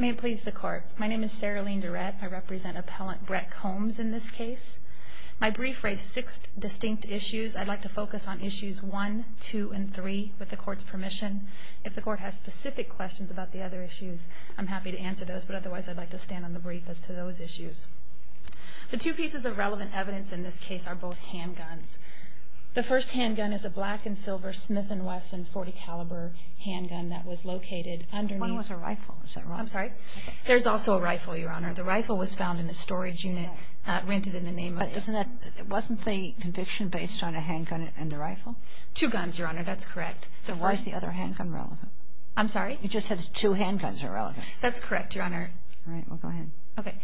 May it please the Court. My name is Sarah-Lene Durrett. I represent Appellant Brett Combs in this case. My brief raised six distinct issues. I'd like to focus on issues 1, 2, and 3 with the Court's permission. If the Court has specific questions about the other issues, I'm happy to answer those, but otherwise I'd like to stand on the brief as to those issues. The two pieces of relevant evidence in this case are both handguns. The first handgun is a black-and-silver Smith & Wesson .40 caliber handgun that was located underneath... When was the rifle? Is that wrong? I'm sorry? There's also a rifle, Your Honor. The rifle was found in the storage unit rented in the name of... Wasn't the conviction based on a handgun and the rifle? Two guns, Your Honor. That's correct. Then why is the other handgun relevant? I'm sorry? You just said two handguns are relevant. That's correct, Your Honor. All right. Well, go ahead. Okay.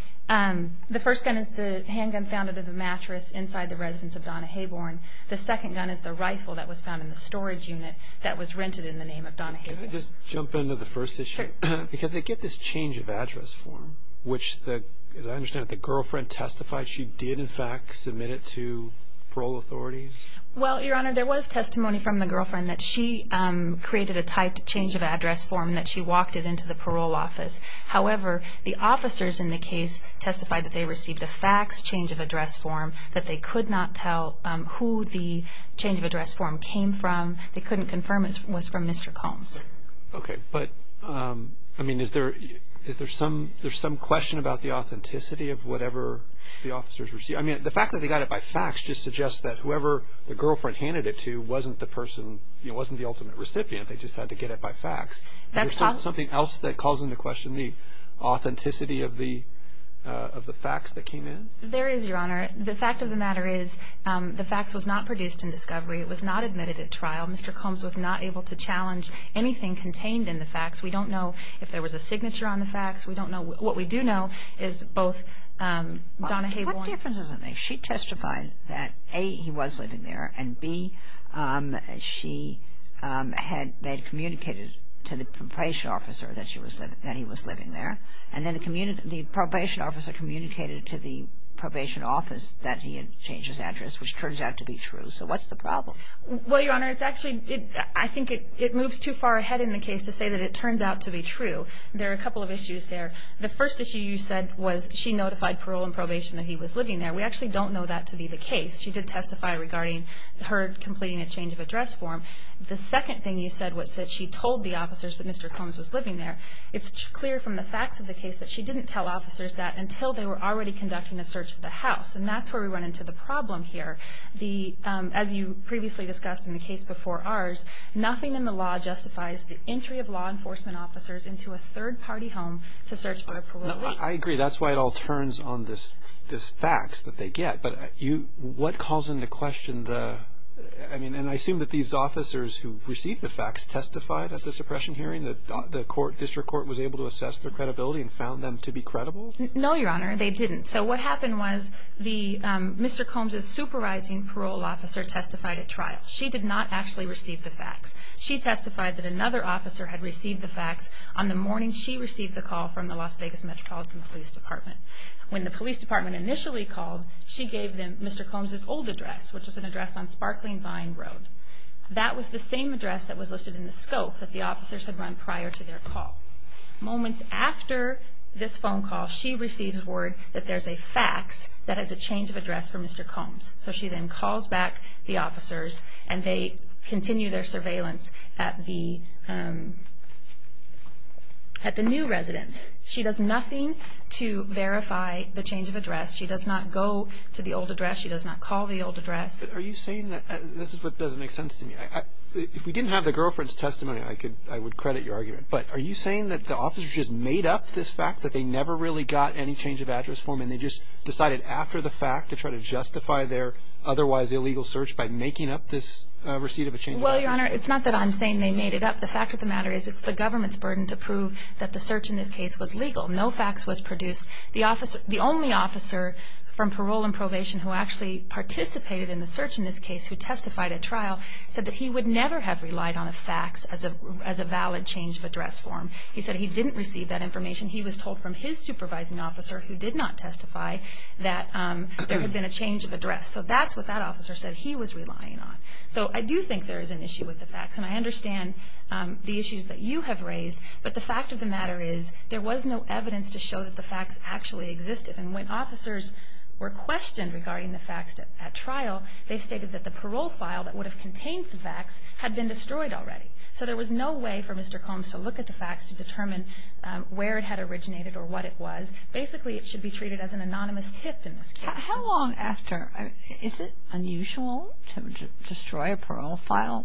The first gun is the handgun found under the mattress inside the residence of Donna Hayborn. The second gun is the rifle that was found in the storage unit that was rented in the name of Donna Hayborn. Can I just jump into the first issue? Sure. Because they get this change of address form, which, as I understand it, the girlfriend testified she did, in fact, submit it to parole authorities? Well, Your Honor, there was testimony from the girlfriend that she created a typed change of address form and that she walked it into the parole office. However, the officers in the case testified that they received a fax change of address form, that they could not tell who the change of address form came from. They couldn't confirm it was from Mr. Combs. Okay. But, I mean, is there some question about the authenticity of whatever the officers received? I mean, the fact that they got it by fax just suggests that whoever the girlfriend handed it to wasn't the person, you know, wasn't the ultimate recipient. They just had to get it by fax. Is there something else that calls into question the authenticity of the fax that came in? There is, Your Honor. The fact of the matter is the fax was not produced in discovery. It was not admitted at trial. Mr. Combs was not able to challenge anything contained in the fax. We don't know if there was a signature on the fax. We don't know. What we do know is both Donna Hayborn What difference does it make? She testified that, A, he was living there, and, B, she had communicated to the probation officer that he was living there. And then the probation officer communicated to the probation office that he had changed his address, which turns out to be true. So what's the problem? Well, Your Honor, it's actually, I think it moves too far ahead in the case to say that it turns out to be true. There are a couple of issues there. The first issue you said was she notified parole and probation that he was living there. We actually don't know that to be the case. She did testify regarding her completing a change of address form. The second thing you said was that she told the officers that Mr. Combs was living there. It's clear from the fax of the case that she didn't tell officers that until they were already conducting a search of the house. And that's where we run into the problem here. As you previously discussed in the case before ours, nothing in the law justifies the entry of law enforcement officers into a third-party home to search for a parolee. I agree. That's why it all turns on this fax that they get. But what calls into question the, I mean, and I assume that these officers who received the fax testified at the suppression hearing, that the district court was able to assess their credibility and found them to be credible? No, Your Honor, they didn't. So what happened was Mr. Combs' supervising parole officer testified at trial. She did not actually receive the fax. She testified that another officer had received the fax. On the morning she received the call from the Las Vegas Metropolitan Police Department. When the police department initially called, she gave them Mr. Combs' old address, which was an address on Sparkling Vine Road. That was the same address that was listed in the scope that the officers had run prior to their call. Moments after this phone call, she received word that there's a fax that has a change of address for Mr. Combs. So she then calls back the officers, and they continue their surveillance at the new residence. She does nothing to verify the change of address. She does not go to the old address. She does not call the old address. Are you saying that this is what doesn't make sense to me? If we didn't have the girlfriend's testimony, I would credit your argument. But are you saying that the officers just made up this fact that they never really got any change of address for them, and they just decided after the fact to try to justify their otherwise illegal search by making up this receipt of a change of address? Well, Your Honor, it's not that I'm saying they made it up. The fact of the matter is it's the government's burden to prove that the search in this case was legal. No fax was produced. The only officer from parole and probation who actually participated in the search in this case, who testified at trial, said that he would never have relied on a fax as a valid change of address form. He said he didn't receive that information. He was told from his supervising officer, who did not testify, that there had been a change of address. So that's what that officer said he was relying on. So I do think there is an issue with the fax, and I understand the issues that you have raised. But the fact of the matter is there was no evidence to show that the fax actually existed. And when officers were questioned regarding the fax at trial, they stated that the parole file that would have contained the fax had been destroyed already. So there was no way for Mr. Combs to look at the fax to determine where it had originated or what it was. Basically, it should be treated as an anonymous tip in this case. How long after? Is it unusual to destroy a parole file,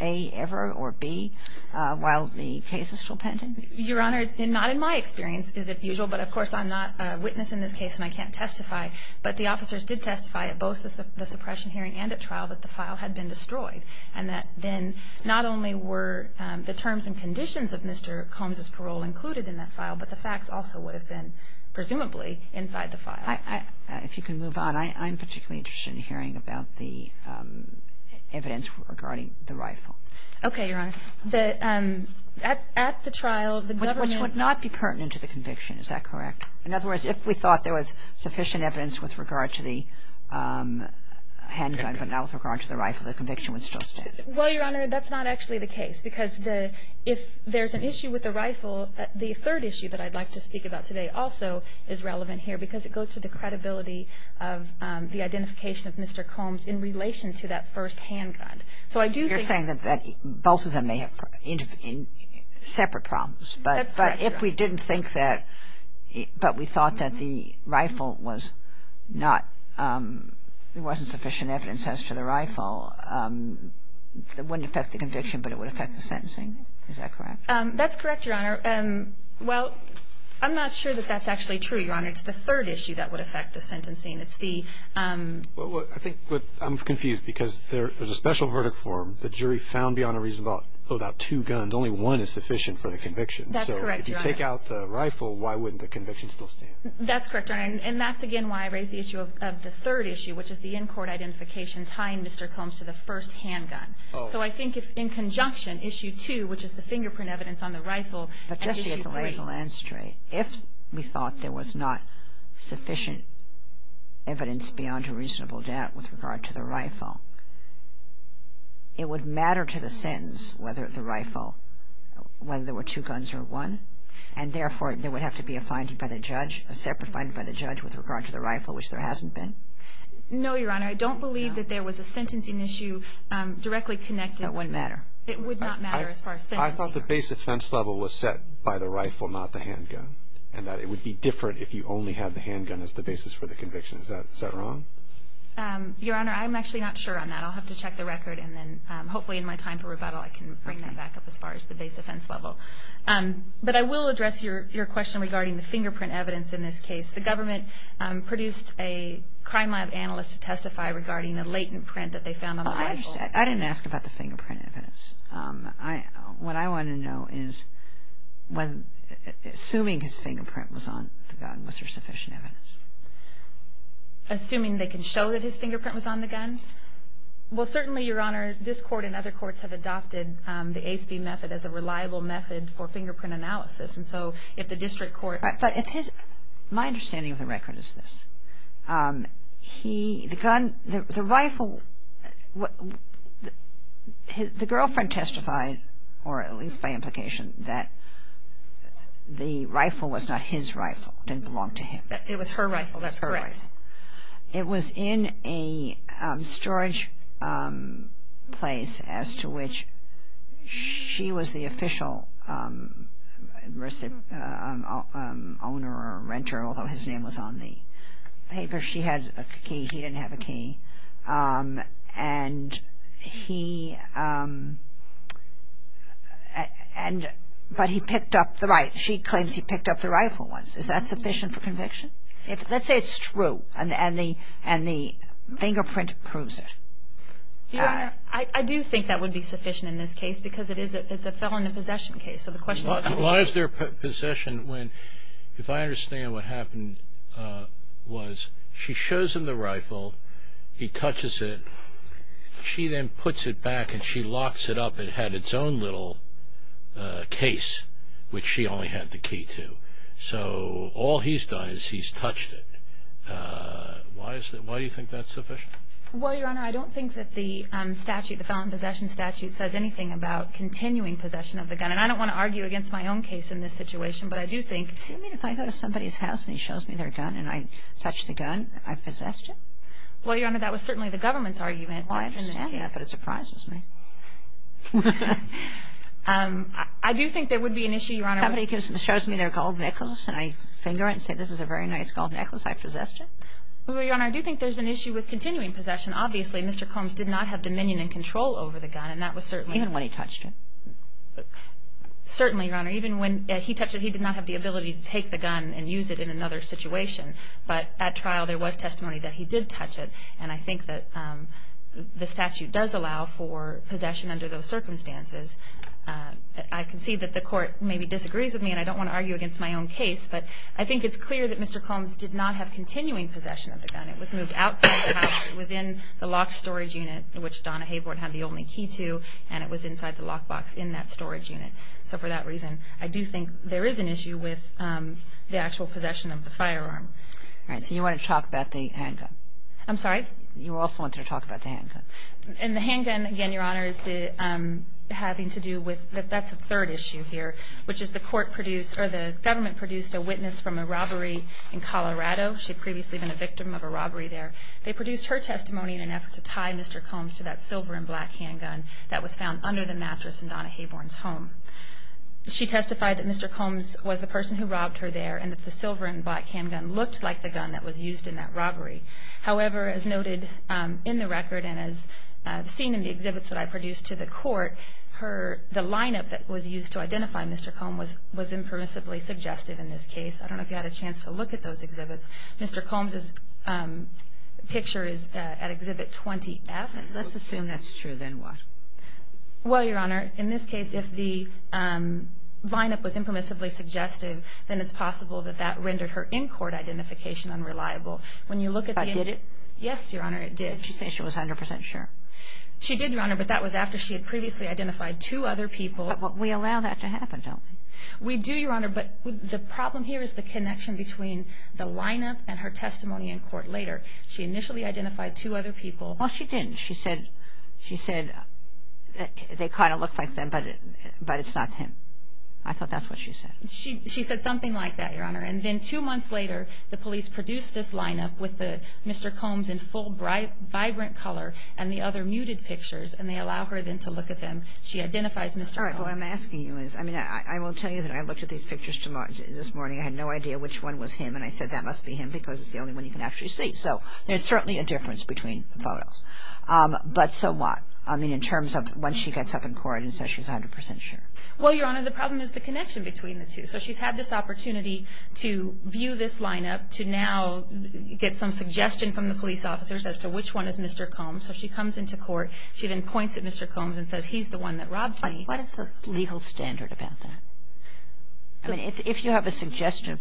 A, ever, or B, while the case is still pending? Your Honor, not in my experience is it usual. But, of course, I'm not a witness in this case, and I can't testify. But the officers did testify at both the suppression hearing and at trial that the file had been destroyed, and that then not only were the terms and conditions of Mr. Combs' parole included in that file, but the fax also would have been presumably inside the file. If you can move on. I'm particularly interested in hearing about the evidence regarding the rifle. Okay, Your Honor. At the trial, the government ---- Which would not be pertinent to the conviction. Is that correct? In other words, if we thought there was sufficient evidence with regard to the handgun, but not with regard to the rifle, the conviction would still stand? Well, Your Honor, that's not actually the case. Because if there's an issue with the rifle, the third issue that I'd like to speak about today also is relevant here, because it goes to the credibility of the identification of Mr. Combs in relation to that first handgun. So I do think ---- You're saying that both of them may have separate problems. That's correct, Your Honor. But if we didn't think that, but we thought that the rifle was not, there wasn't sufficient evidence as to the rifle, it wouldn't affect the conviction, but it would affect the sentencing. Is that correct? That's correct, Your Honor. Well, I'm not sure that that's actually true, Your Honor. It's the third issue that would affect the sentencing. It's the ---- Well, I think what I'm confused, because there's a special verdict form. The jury found beyond a reasonable doubt two guns. Only one is sufficient for the conviction. That's correct, Your Honor. So if you take out the rifle, why wouldn't the conviction still stand? That's correct, Your Honor. And that's, again, why I raised the issue of the third issue, which is the in-court identification tying Mr. Combs to the first handgun. Oh. So I think if in conjunction, Issue 2, which is the fingerprint evidence on the rifle, and Issue 3. But just to get the lay of the land straight, if we thought there was not sufficient evidence beyond a reasonable doubt with regard to the rifle, it would matter to the sentence whether the rifle, whether there were two guns or one? And, therefore, there would have to be a finding by the judge, a separate finding by the judge with regard to the rifle, which there hasn't been? No, Your Honor. I don't believe that there was a sentencing issue directly connected. That wouldn't matter. It would not matter as far as sentencing. I thought the base offense level was set by the rifle, not the handgun, and that it would be different if you only had the handgun as the basis for the conviction. Is that wrong? Your Honor, I'm actually not sure on that. I'll have to check the record and then, hopefully in my time for rebuttal, I can bring that back up as far as the base offense level. But I will address your question regarding the fingerprint evidence in this case. The government produced a crime lab analyst to testify regarding the latent print that they found on the rifle. I didn't ask about the fingerprint evidence. What I want to know is, assuming his fingerprint was on the gun, was there sufficient evidence? Assuming they can show that his fingerprint was on the gun? Well, certainly, Your Honor, this court and other courts have adopted the ACE-B method as a reliable method for fingerprint analysis. And so if the district court… But if his… my understanding of the record is this. He… the gun… the rifle… the girlfriend testified, or at least by implication, that the rifle was not his rifle. It didn't belong to him. It was her rifle. That's correct. It was in a storage place as to which she was the official owner or renter, although his name was on the paper. She had a key. He didn't have a key. And he… but he picked up the rifle. She claims he picked up the rifle once. Is that sufficient for conviction? Let's say it's true and the fingerprint proves it. Your Honor, I do think that would be sufficient in this case because it is a felony possession case. So the question is… Why is there possession when, if I understand what happened, was she shows him the rifle, he touches it, she then puts it back and she locks it up. It had its own little case, which she only had the key to. So all he's done is he's touched it. Why do you think that's sufficient? Well, Your Honor, I don't think that the statute, the felony possession statute, says anything about continuing possession of the gun. And I don't want to argue against my own case in this situation, but I do think… Do you mean if I go to somebody's house and he shows me their gun and I touch the gun, I possessed it? Well, Your Honor, that was certainly the government's argument. Well, I understand that, but it surprises me. I do think there would be an issue, Your Honor… If somebody shows me their gold necklace and I finger it and say, this is a very nice gold necklace, I possessed it? Well, Your Honor, I do think there's an issue with continuing possession. Obviously, Mr. Combs did not have dominion and control over the gun, and that was certainly… Even when he touched it? Certainly, Your Honor. Even when he touched it, he did not have the ability to take the gun and use it in another situation. But at trial there was testimony that he did touch it, and I think that the statute does allow for possession under those circumstances. I concede that the court maybe disagrees with me, and I don't want to argue against my own case, but I think it's clear that Mr. Combs did not have continuing possession of the gun. It was moved outside the house. It was in the locked storage unit, which Donna Hayward had the only key to, and it was inside the lockbox in that storage unit. So for that reason, I do think there is an issue with the actual possession of the firearm. All right. So you want to talk about the handgun? I'm sorry? You also want to talk about the handgun. And the handgun, again, Your Honor, is having to do with… That's the third issue here, which is the court produced, or the government produced a witness from a robbery in Colorado. She had previously been a victim of a robbery there. They produced her testimony in an effort to tie Mr. Combs to that silver and black handgun that was found under the mattress in Donna Hayward's home. She testified that Mr. Combs was the person who robbed her there and that the silver and black handgun looked like the gun that was used in that robbery. However, as noted in the record and as seen in the exhibits that I produced to the court, the line-up that was used to identify Mr. Combs was impermissibly suggestive in this case. I don't know if you had a chance to look at those exhibits. Mr. Combs' picture is at Exhibit 20F. Let's assume that's true. Then what? Well, Your Honor, in this case, if the line-up was impermissibly suggestive, then it's possible that that rendered her in-court identification unreliable. When you look at the... But did it? Yes, Your Honor, it did. Did she say she was 100 percent sure? She did, Your Honor, but that was after she had previously identified two other people. But we allow that to happen, don't we? We do, Your Honor, but the problem here is the connection between the line-up and her testimony in court later. She initially identified two other people. Well, she didn't. She said they kind of looked like them, but it's not him. I thought that's what she said. She said something like that, Your Honor. And then two months later, the police produced this line-up with Mr. Combs in full vibrant color and the other muted pictures, and they allow her then to look at them. She identifies Mr. Combs. All right. What I'm asking you is, I mean, I will tell you that I looked at these pictures this morning. I had no idea which one was him, and I said, that must be him because it's the only one you can actually see. So there's certainly a difference between the photos. But so what? I mean, in terms of when she gets up in court and says she's 100 percent sure. Well, Your Honor, the problem is the connection between the two. So she's had this opportunity to view this line-up, to now get some suggestion from the police officers as to which one is Mr. Combs. So she comes into court. She then points at Mr. Combs and says, he's the one that robbed me. What is the legal standard about that? I mean, if you have a suggestive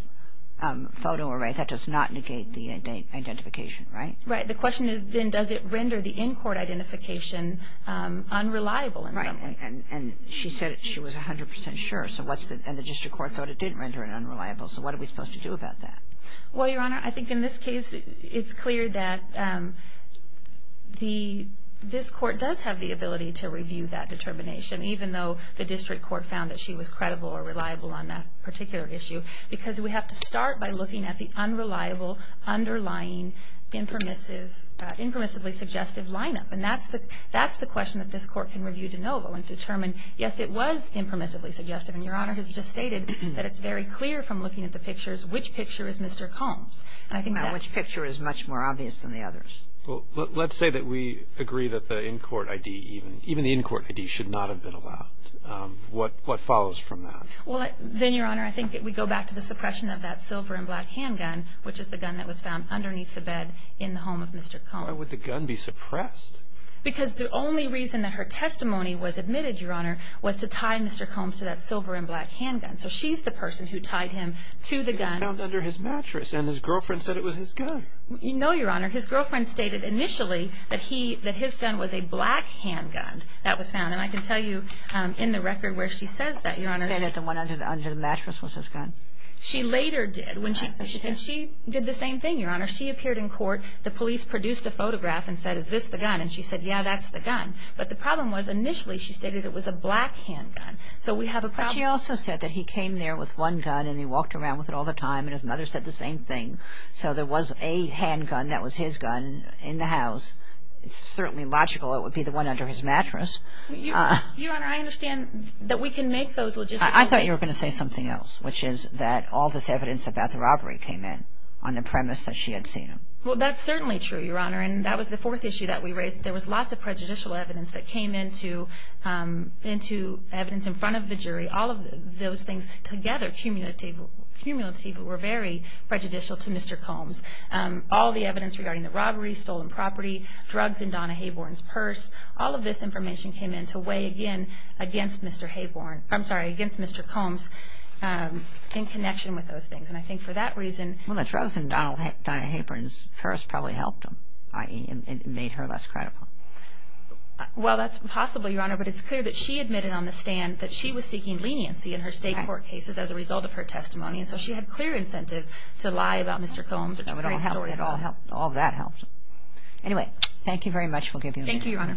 photo array, that does not negate the identification, right? Right. The question is then does it render the in-court identification unreliable in some way? Right. And she said she was 100 percent sure. And the district court thought it didn't render it unreliable. So what are we supposed to do about that? Well, Your Honor, I think in this case, it's clear that this court does have the ability to review that determination, even though the district court found that she was credible or reliable on that particular issue because we have to start by looking at the unreliable, underlying, impermissibly suggestive line-up. And that's the question that this court can review de novo and determine, yes, it was impermissibly suggestive. And Your Honor has just stated that it's very clear from looking at the pictures which picture is Mr. Combs. Now, which picture is much more obvious than the others? Well, let's say that we agree that the in-court ID, even the in-court ID should not have been allowed. What follows from that? Well, then, Your Honor, I think we go back to the suppression of that silver and black handgun, which is the gun that was found underneath the bed in the home of Mr. Combs. Why would the gun be suppressed? Because the only reason that her testimony was admitted, Your Honor, was to tie Mr. Combs to that silver and black handgun. So she's the person who tied him to the gun. It was found under his mattress, and his girlfriend said it was his gun. No, Your Honor. His girlfriend stated initially that his gun was a black handgun that was found. And I can tell you in the record where she says that, Your Honor. That the one under the mattress was his gun? She later did. And she did the same thing, Your Honor. She appeared in court. The police produced a photograph and said, Is this the gun? And she said, Yeah, that's the gun. But the problem was initially she stated it was a black handgun. So we have a problem. But she also said that he came there with one gun and he walked around with it all the time, and his mother said the same thing. So there was a handgun that was his gun in the house. It's certainly logical it would be the one under his mattress. Your Honor, I understand that we can make those logistical mistakes. I thought you were going to say something else, which is that all this evidence about the robbery came in on the premise that she had seen him. Well, that's certainly true, Your Honor. And that was the fourth issue that we raised. There was lots of prejudicial evidence that came into evidence in front of the jury. All of those things together, cumulatively, were very prejudicial to Mr. Combs. All the evidence regarding the robbery, stolen property, drugs in Donna Hayborn's purse, all of this information came in to weigh against Mr. Combs in connection with those things. And I think for that reason – Well, the drugs in Donna Hayborn's purse probably helped him, i.e., made her less credible. Well, that's possible, Your Honor, but it's clear that she admitted on the stand that she was seeking leniency in her state court cases as a result of her testimony, and so she had clear incentive to lie about Mr. Combs or to write stories about him. It all helped. All that helped. Anyway, thank you very much. We'll give you a minute. Thank you, Your Honor.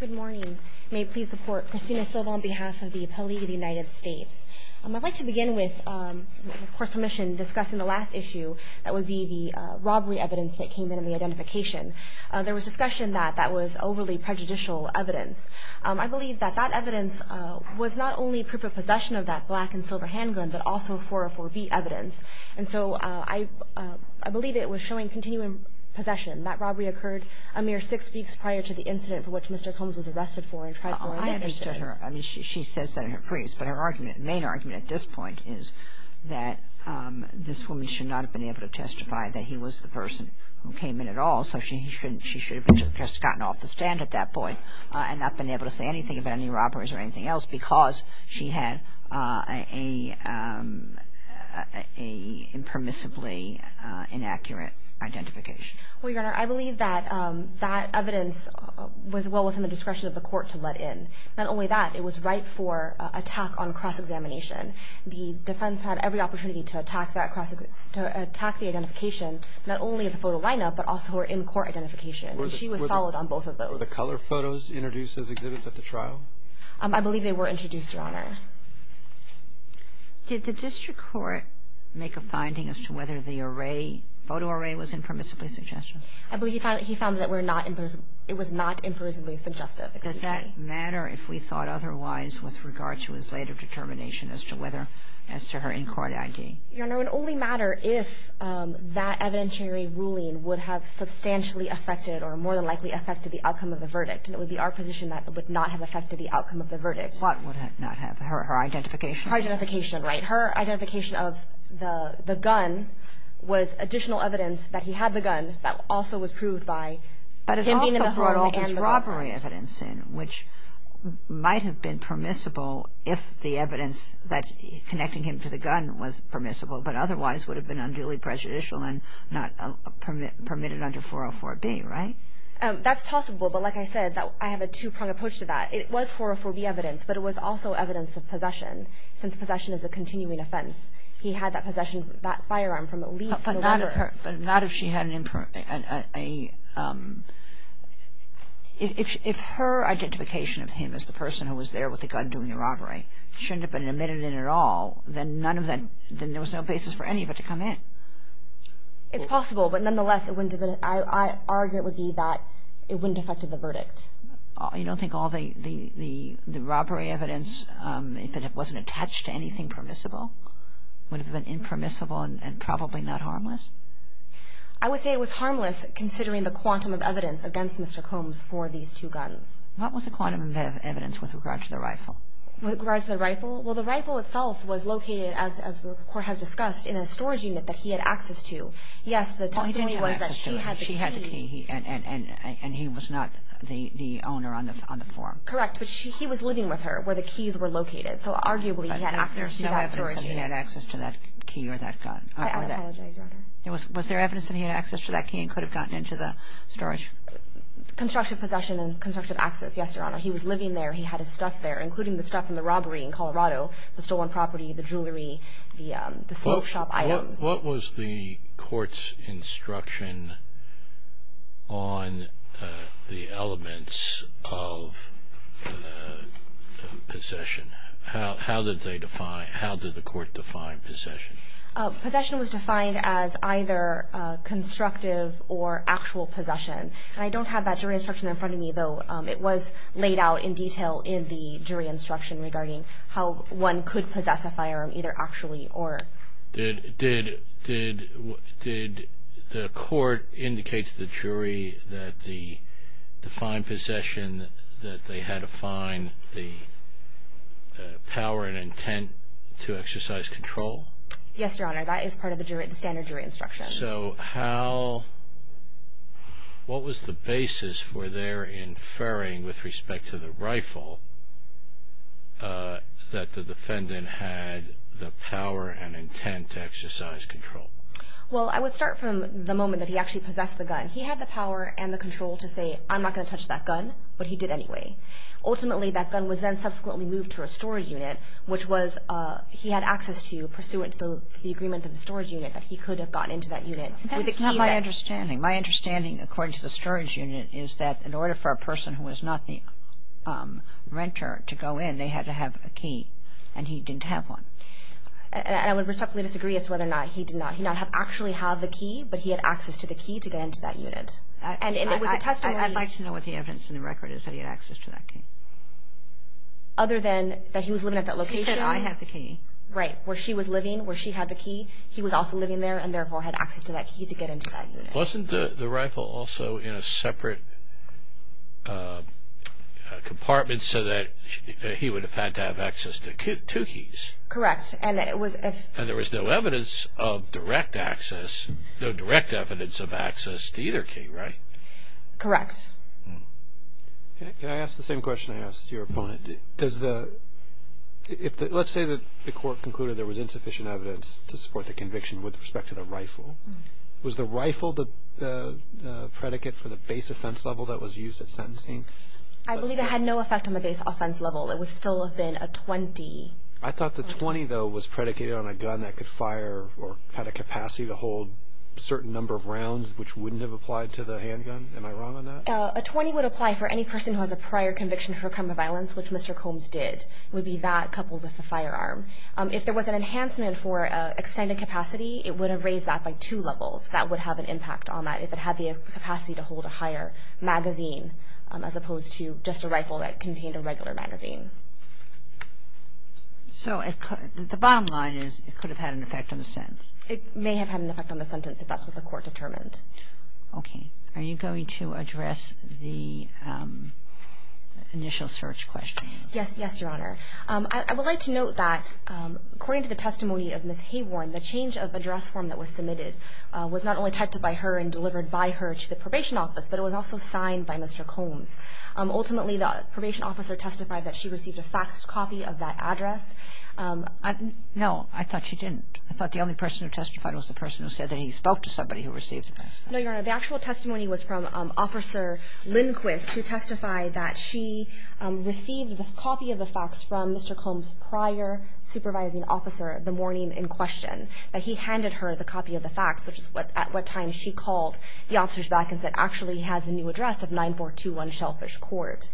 Good morning. May it please the Court. Christina Silva on behalf of the Appeal League of the United States. I'd like to begin with, with Court's permission, discussing the last issue that would be the robbery evidence that came in in the identification. There was discussion that that was overly prejudicial evidence. I believe that that evidence was not only proof of possession of that black and silver handgun but also 404B evidence. And so I believe it was showing continuing possession. That robbery occurred a mere six weeks prior to the incident for which Mr. Combs was arrested for and tried for another six. I understood her. I mean, she says that in her briefs, but her argument, main argument at this point is that this woman should not have been able to testify that he was the person who came in at all, so she should have just gotten off the stand at that point and not been able to say anything about any robberies or anything else because she had a impermissibly inaccurate identification. Well, Your Honor, I believe that that evidence was well within the discretion of the Court to let in. Not only that, it was right for attack on cross-examination. The defense had every opportunity to attack that cross-examination, to attack the identification not only of the photo lineup but also her in-court identification, and she was solid on both of those. Were the color photos introduced as exhibits at the trial? I believe they were introduced, Your Honor. Did the district court make a finding as to whether the array, photo array, was impermissibly suggestive? I believe he found that it was not impermissibly suggestive. Does that matter if we thought otherwise with regard to his later determination as to whether, as to her in-court ID? Your Honor, it would only matter if that evidentiary ruling would have substantially affected or more than likely affected the outcome of the verdict, and it would be our position that it would not have affected the outcome of the verdict. What would it not have? Her identification? Her identification, right. Her identification of the gun was additional evidence that he had the gun that also was proved by him being in the home and the weapon. But it also brought all this robbery evidence in, which might have been permissible if the evidence connecting him to the gun was permissible, but otherwise would have been unduly prejudicial and not permitted under 404B, right? That's possible, but like I said, I have a two-pronged approach to that. It was 404B evidence, but it was also evidence of possession, since possession is a continuing offense. He had that possession of that firearm from at least November. But not if she had an improper – if her identification of him as the person who was there with the gun doing the robbery shouldn't have been admitted in at all, then none of that – then there was no basis for any of it to come in. It's possible, but nonetheless, it wouldn't – I argue it would be that it wouldn't have affected the verdict. You don't think all the robbery evidence, if it wasn't attached to anything permissible, would have been impermissible and probably not harmless? I would say it was harmless, considering the quantum of evidence against Mr. Combs for these two guns. What was the quantum of evidence with regard to the rifle? With regard to the rifle? Well, the rifle itself was located, as the Court has discussed, in a storage unit that he had access to. Yes, the testimony was that she had the key. She had the key, and he was not the owner on the form. Correct. But he was living with her where the keys were located, so arguably he had access to that storage unit. But there's no evidence that he had access to that key or that gun. I apologize, Your Honor. Was there evidence that he had access to that key and could have gotten into the storage? Constructive possession and constructive access, yes, Your Honor. He was living there. He had his stuff there, including the stuff from the robbery in Colorado, the stolen property, the jewelry, the smoke shop items. What was the Court's instruction on the elements of possession? How did the Court define possession? Possession was defined as either constructive or actual possession. I don't have that jury instruction in front of me, though it was laid out in detail in the jury instruction regarding how one could possess a firearm, either actually or not. Did the Court indicate to the jury that the defined possession, that they had to find the power and intent to exercise control? Yes, Your Honor. That is part of the standard jury instruction. So what was the basis for their inferring with respect to the rifle that the defendant had the power and intent to exercise control? Well, I would start from the moment that he actually possessed the gun. He had the power and the control to say, I'm not going to touch that gun, but he did anyway. Ultimately, that gun was then subsequently moved to a storage unit, which he had access to pursuant to the agreement of the storage unit that he could have gotten into that unit. That's not my understanding. My understanding, according to the storage unit, is that in order for a person who was not the renter to go in, they had to have a key, and he didn't have one. And I would respectfully disagree as to whether or not he did not actually have the key, but he had access to the key to get into that unit. I'd like to know what the evidence in the record is that he had access to that key. Other than that he was living at that location. He said, I have the key. Right. Where she was living, where she had the key, he was also living there, and therefore had access to that key to get into that unit. Wasn't the rifle also in a separate compartment so that he would have had to have access to two keys? Correct. And there was no evidence of direct access, no direct evidence of access to either key, right? Correct. Can I ask the same question I asked your opponent? Let's say that the court concluded there was insufficient evidence to support the conviction with respect to the rifle. Was the rifle the predicate for the base offense level that was used at sentencing? I believe it had no effect on the base offense level. It would still have been a .20. I thought the .20, though, was predicated on a gun that could fire or had a capacity to hold a certain number of rounds, which wouldn't have applied to the handgun. Am I wrong on that? A .20 would apply for any person who has a prior conviction for a crime of violence, which Mr. Combs did. It would be that coupled with the firearm. If there was an enhancement for extended capacity, it would have raised that by two levels. That would have an impact on that if it had the capacity to hold a higher magazine as opposed to just a rifle that contained a regular magazine. So the bottom line is it could have had an effect on the sentence? It may have had an effect on the sentence if that's what the court determined. Okay. Are you going to address the initial search question? Yes. Yes, Your Honor. I would like to note that according to the testimony of Ms. Hayworn, the change of address form that was submitted was not only typed by her and delivered by her to the probation office, but it was also signed by Mr. Combs. Ultimately, the probation officer testified that she received a faxed copy of that address. No. I thought she didn't. I thought the only person who testified was the person who said that he spoke to somebody who received the fax. No, Your Honor. The actual testimony was from Officer Lindquist, who testified that she received a copy of the fax from Mr. Combs' prior supervising officer the morning in question, that he handed her the copy of the fax, which is at what time she called the officers back and said, actually has the new address of 9421 Shellfish Court.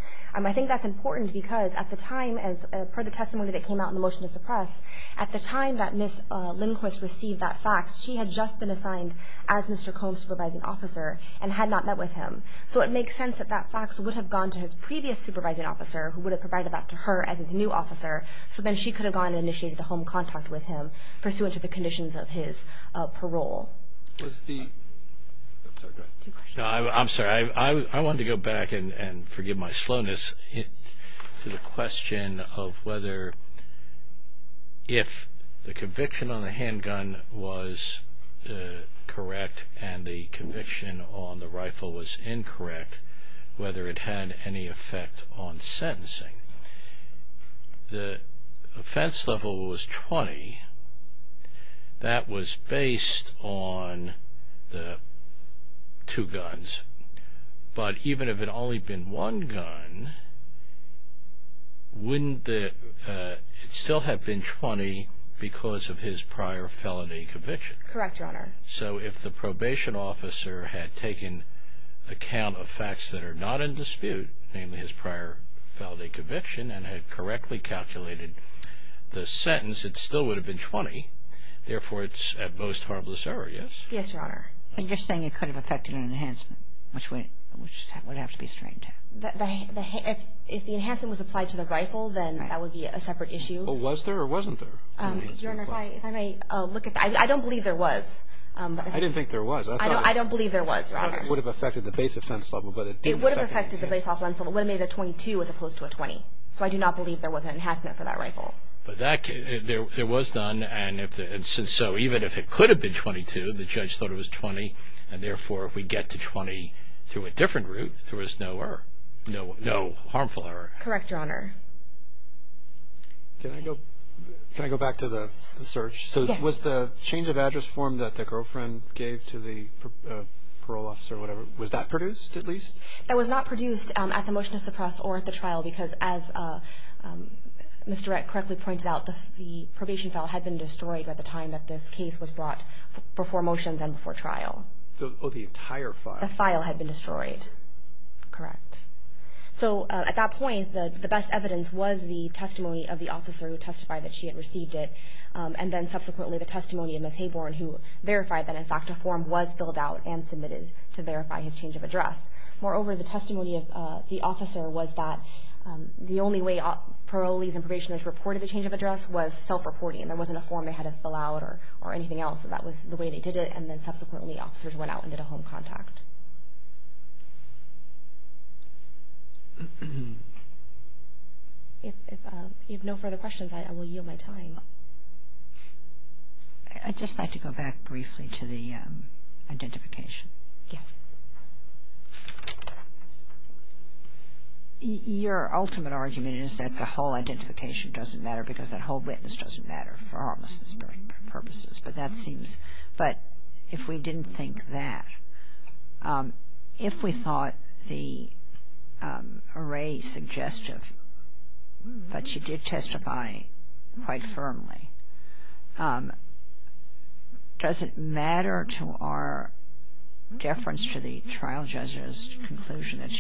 I think that's important because at the time, as per the testimony that came out in the motion to suppress, at the time that Ms. Lindquist received that fax, she had just been assigned as Mr. Combs' supervising officer and had not met with him. So it makes sense that that fax would have gone to his previous supervising officer, who would have provided that to her as his new officer, so then she could have gone and initiated the home contact with him, pursuant to the conditions of his parole. I'm sorry. I wanted to go back, and forgive my slowness, to the question of whether if the conviction on the handgun was correct and the conviction on the rifle was incorrect, whether it had any effect on sentencing. The offense level was 20. That was based on the two guns. But even if it had only been one gun, wouldn't it still have been 20 because of his prior felony conviction? Correct, Your Honor. So if the probation officer had taken account of facts that are not in dispute, namely his prior felony conviction, and had correctly calculated the sentence, it still would have been 20. Therefore, it's at most harmless error, yes? Yes, Your Honor. And you're saying it could have affected an enhancement, which would have to be straightened out. If the enhancement was applied to the rifle, then that would be a separate issue. Well, was there or wasn't there? Your Honor, if I may look at that. I don't believe there was. I didn't think there was. I don't believe there was, Your Honor. I thought it would have affected the base offense level, but it didn't. It would have affected the base offense level. It would have made it a 22 as opposed to a 20. So I do not believe there was an enhancement for that rifle. But there was none, and so even if it could have been 22, the judge thought it was 20, and therefore if we get to 20 through a different route, there was no harmful error. Correct, Your Honor. Can I go back to the search? Yes. So was the change of address form that the girlfriend gave to the parole officer, was that produced, at least? That was not produced at the motion to suppress or at the trial because as Mr. Rett correctly pointed out, the probation file had been destroyed by the time that this case was brought before motions and before trial. Oh, the entire file. The file had been destroyed. Correct. So at that point, the best evidence was the testimony of the officer who testified that she had received it, and then subsequently the testimony of Ms. Hayborn, who verified that, in fact, a form was filled out and submitted to verify his change of address. Moreover, the testimony of the officer was that the only way parolees and probationers reported the change of address was self-reporting. There wasn't a form they had to fill out or anything else. That was the way they did it, and then subsequently officers went out and did a home contact. If you have no further questions, I will yield my time. I'd just like to go back briefly to the identification. Yes. Your ultimate argument is that the whole identification doesn't matter because that whole witness doesn't matter for homelessness purposes, but that seems — but if we didn't think that, if we thought the array suggestive, but she did testify quite firmly, does it matter to our deference to the trial judge's conclusion that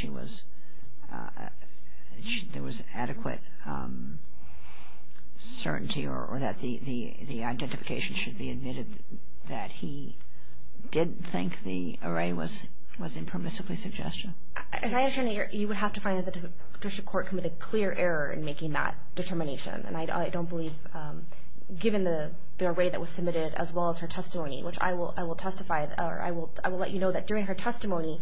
there was adequate certainty or that the identification should be admitted that he didn't think the array was impermissibly suggestive? As I assure you, you would have to find that the judicial court committed clear error in making that determination, and I don't believe given the array that was submitted as well as her testimony, which I will testify or I will let you know that during her testimony,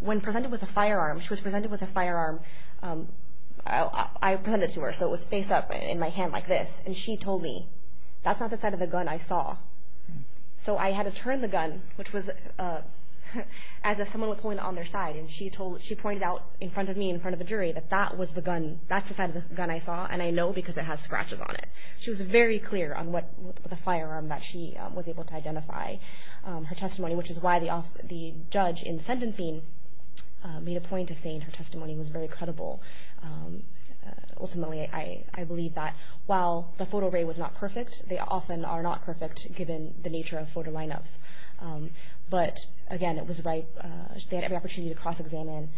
when presented with a firearm, she was presented with a firearm. I presented it to her, so it was face up in my hand like this, and she told me, that's not the side of the gun I saw. So I had to turn the gun, which was as if someone was holding it on their side, and she pointed out in front of me, in front of the jury, that that was the gun, that's the side of the gun I saw, and I know because it has scratches on it. She was very clear on what the firearm that she was able to identify. Her testimony, which is why the judge in sentencing made a point of saying her testimony was very credible. Ultimately, I believe that while the photo array was not perfect, they often are not perfect given the nature of photo lineups, but again, it was right. They had every opportunity to cross-examine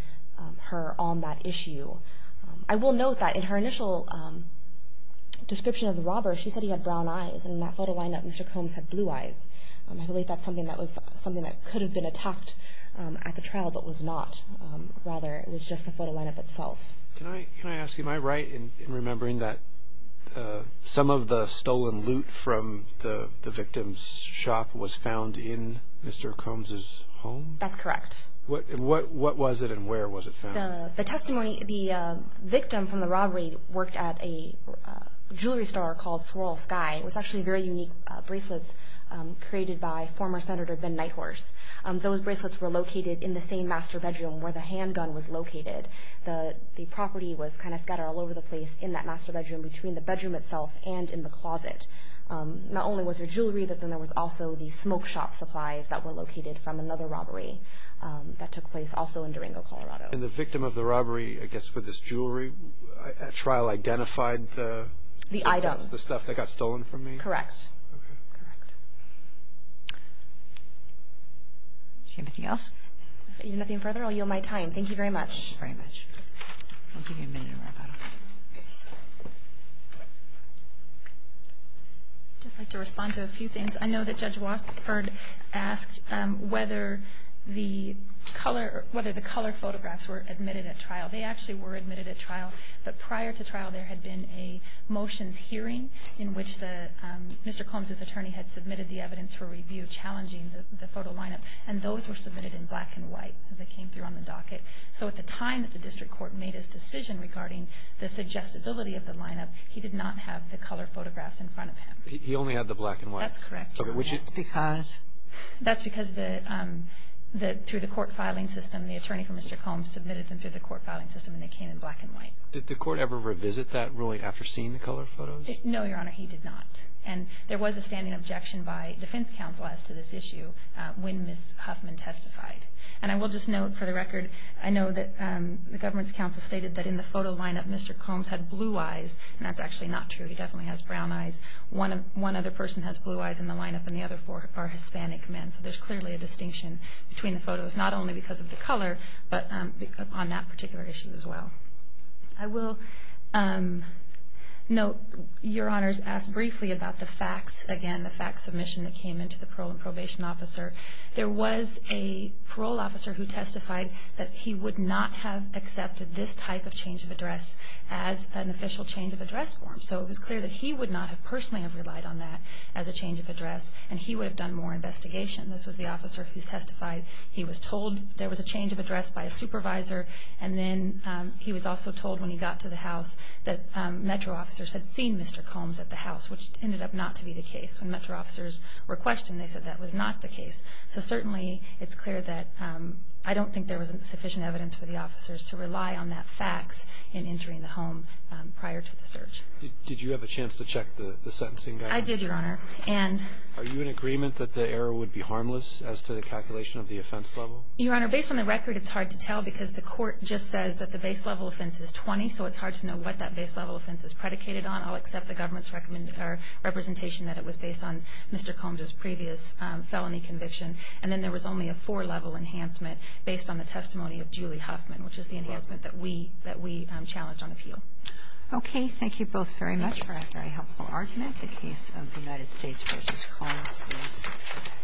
her on that issue. I will note that in her initial description of the robber, she said he had brown eyes, and in that photo lineup, Mr. Combs had blue eyes. I believe that's something that could have been attacked at the trial, but was not. Rather, it was just the photo lineup itself. Can I ask, am I right in remembering that some of the stolen loot from the victim's shop was found in Mr. Combs' home? That's correct. What was it, and where was it found? The testimony, the victim from the robbery worked at a jewelry store called Swirl Sky. It was actually very unique bracelets created by former Senator Ben Nighthorse. Those bracelets were located in the same master bedroom where the handgun was located. The property was kind of scattered all over the place in that master bedroom, between the bedroom itself and in the closet. Not only was there jewelry, but then there was also the smoke shop supplies that were located from another robbery that took place also in Durango, Colorado. And the victim of the robbery, I guess for this jewelry, at trial identified the items, the stuff that got stolen from me? Correct. Okay. Correct. Do you have anything else? Nothing further. I'll yield my time. Thank you very much. Thank you very much. I'll give you a minute to wrap up. I'd just like to respond to a few things. I know that Judge Watford asked whether the color photographs were admitted at trial. They actually were admitted at trial, but prior to trial there had been a motions hearing in which Mr. Combs' attorney had submitted the evidence for review challenging the photo lineup, and those were submitted in black and white as they came through on the docket. So at the time that the district court made its decision regarding the suggestibility of the lineup, he did not have the color photographs in front of him. He only had the black and white? That's correct. That's because? That's because through the court filing system, the attorney for Mr. Combs submitted them through the court filing system, and they came in black and white. Did the court ever revisit that ruling after seeing the color photos? No, Your Honor, he did not. And there was a standing objection by defense counsel as to this issue when Ms. Huffman testified. And I will just note, for the record, I know that the government's counsel stated that in the photo lineup Mr. Combs had blue eyes, and that's actually not true. He definitely has brown eyes. One other person has blue eyes in the lineup, and the other four are Hispanic men. So there's clearly a distinction between the photos, not only because of the color, but on that particular issue as well. I will note Your Honor's asked briefly about the facts, again, the fact submission that came into the parole and probation officer. There was a parole officer who testified that he would not have accepted this type of change of address as an official change of address form. So it was clear that he would not have personally relied on that as a change of address, and he would have done more investigation. This was the officer who testified. He was told there was a change of address by a supervisor, and then he was also told when he got to the house that Metro officers had seen Mr. Combs at the house, which ended up not to be the case. When Metro officers were questioned, they said that was not the case. So certainly it's clear that I don't think there was sufficient evidence for the officers to rely on that fax in entering the home prior to the search. Did you have a chance to check the sentencing guide? I did, Your Honor. Are you in agreement that the error would be harmless as to the calculation of the offense level? Your Honor, based on the record, it's hard to tell because the court just says that the base level offense is 20, so it's hard to know what that base level offense is predicated on. I'll accept the government's representation that it was based on Mr. Combs' previous felony conviction, and then there was only a four-level enhancement based on the testimony of Julie Huffman, which is the enhancement that we challenged on appeal. Okay. Thank you both very much for that very helpful argument. The case of the United States v. Combs is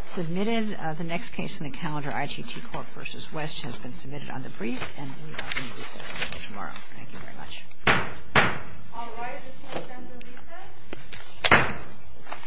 submitted. The next case in the calendar, I.T.T. Court v. West, has been submitted on the briefs, and we are going to recess until tomorrow. Thank you very much. All rise. It's now time to recess.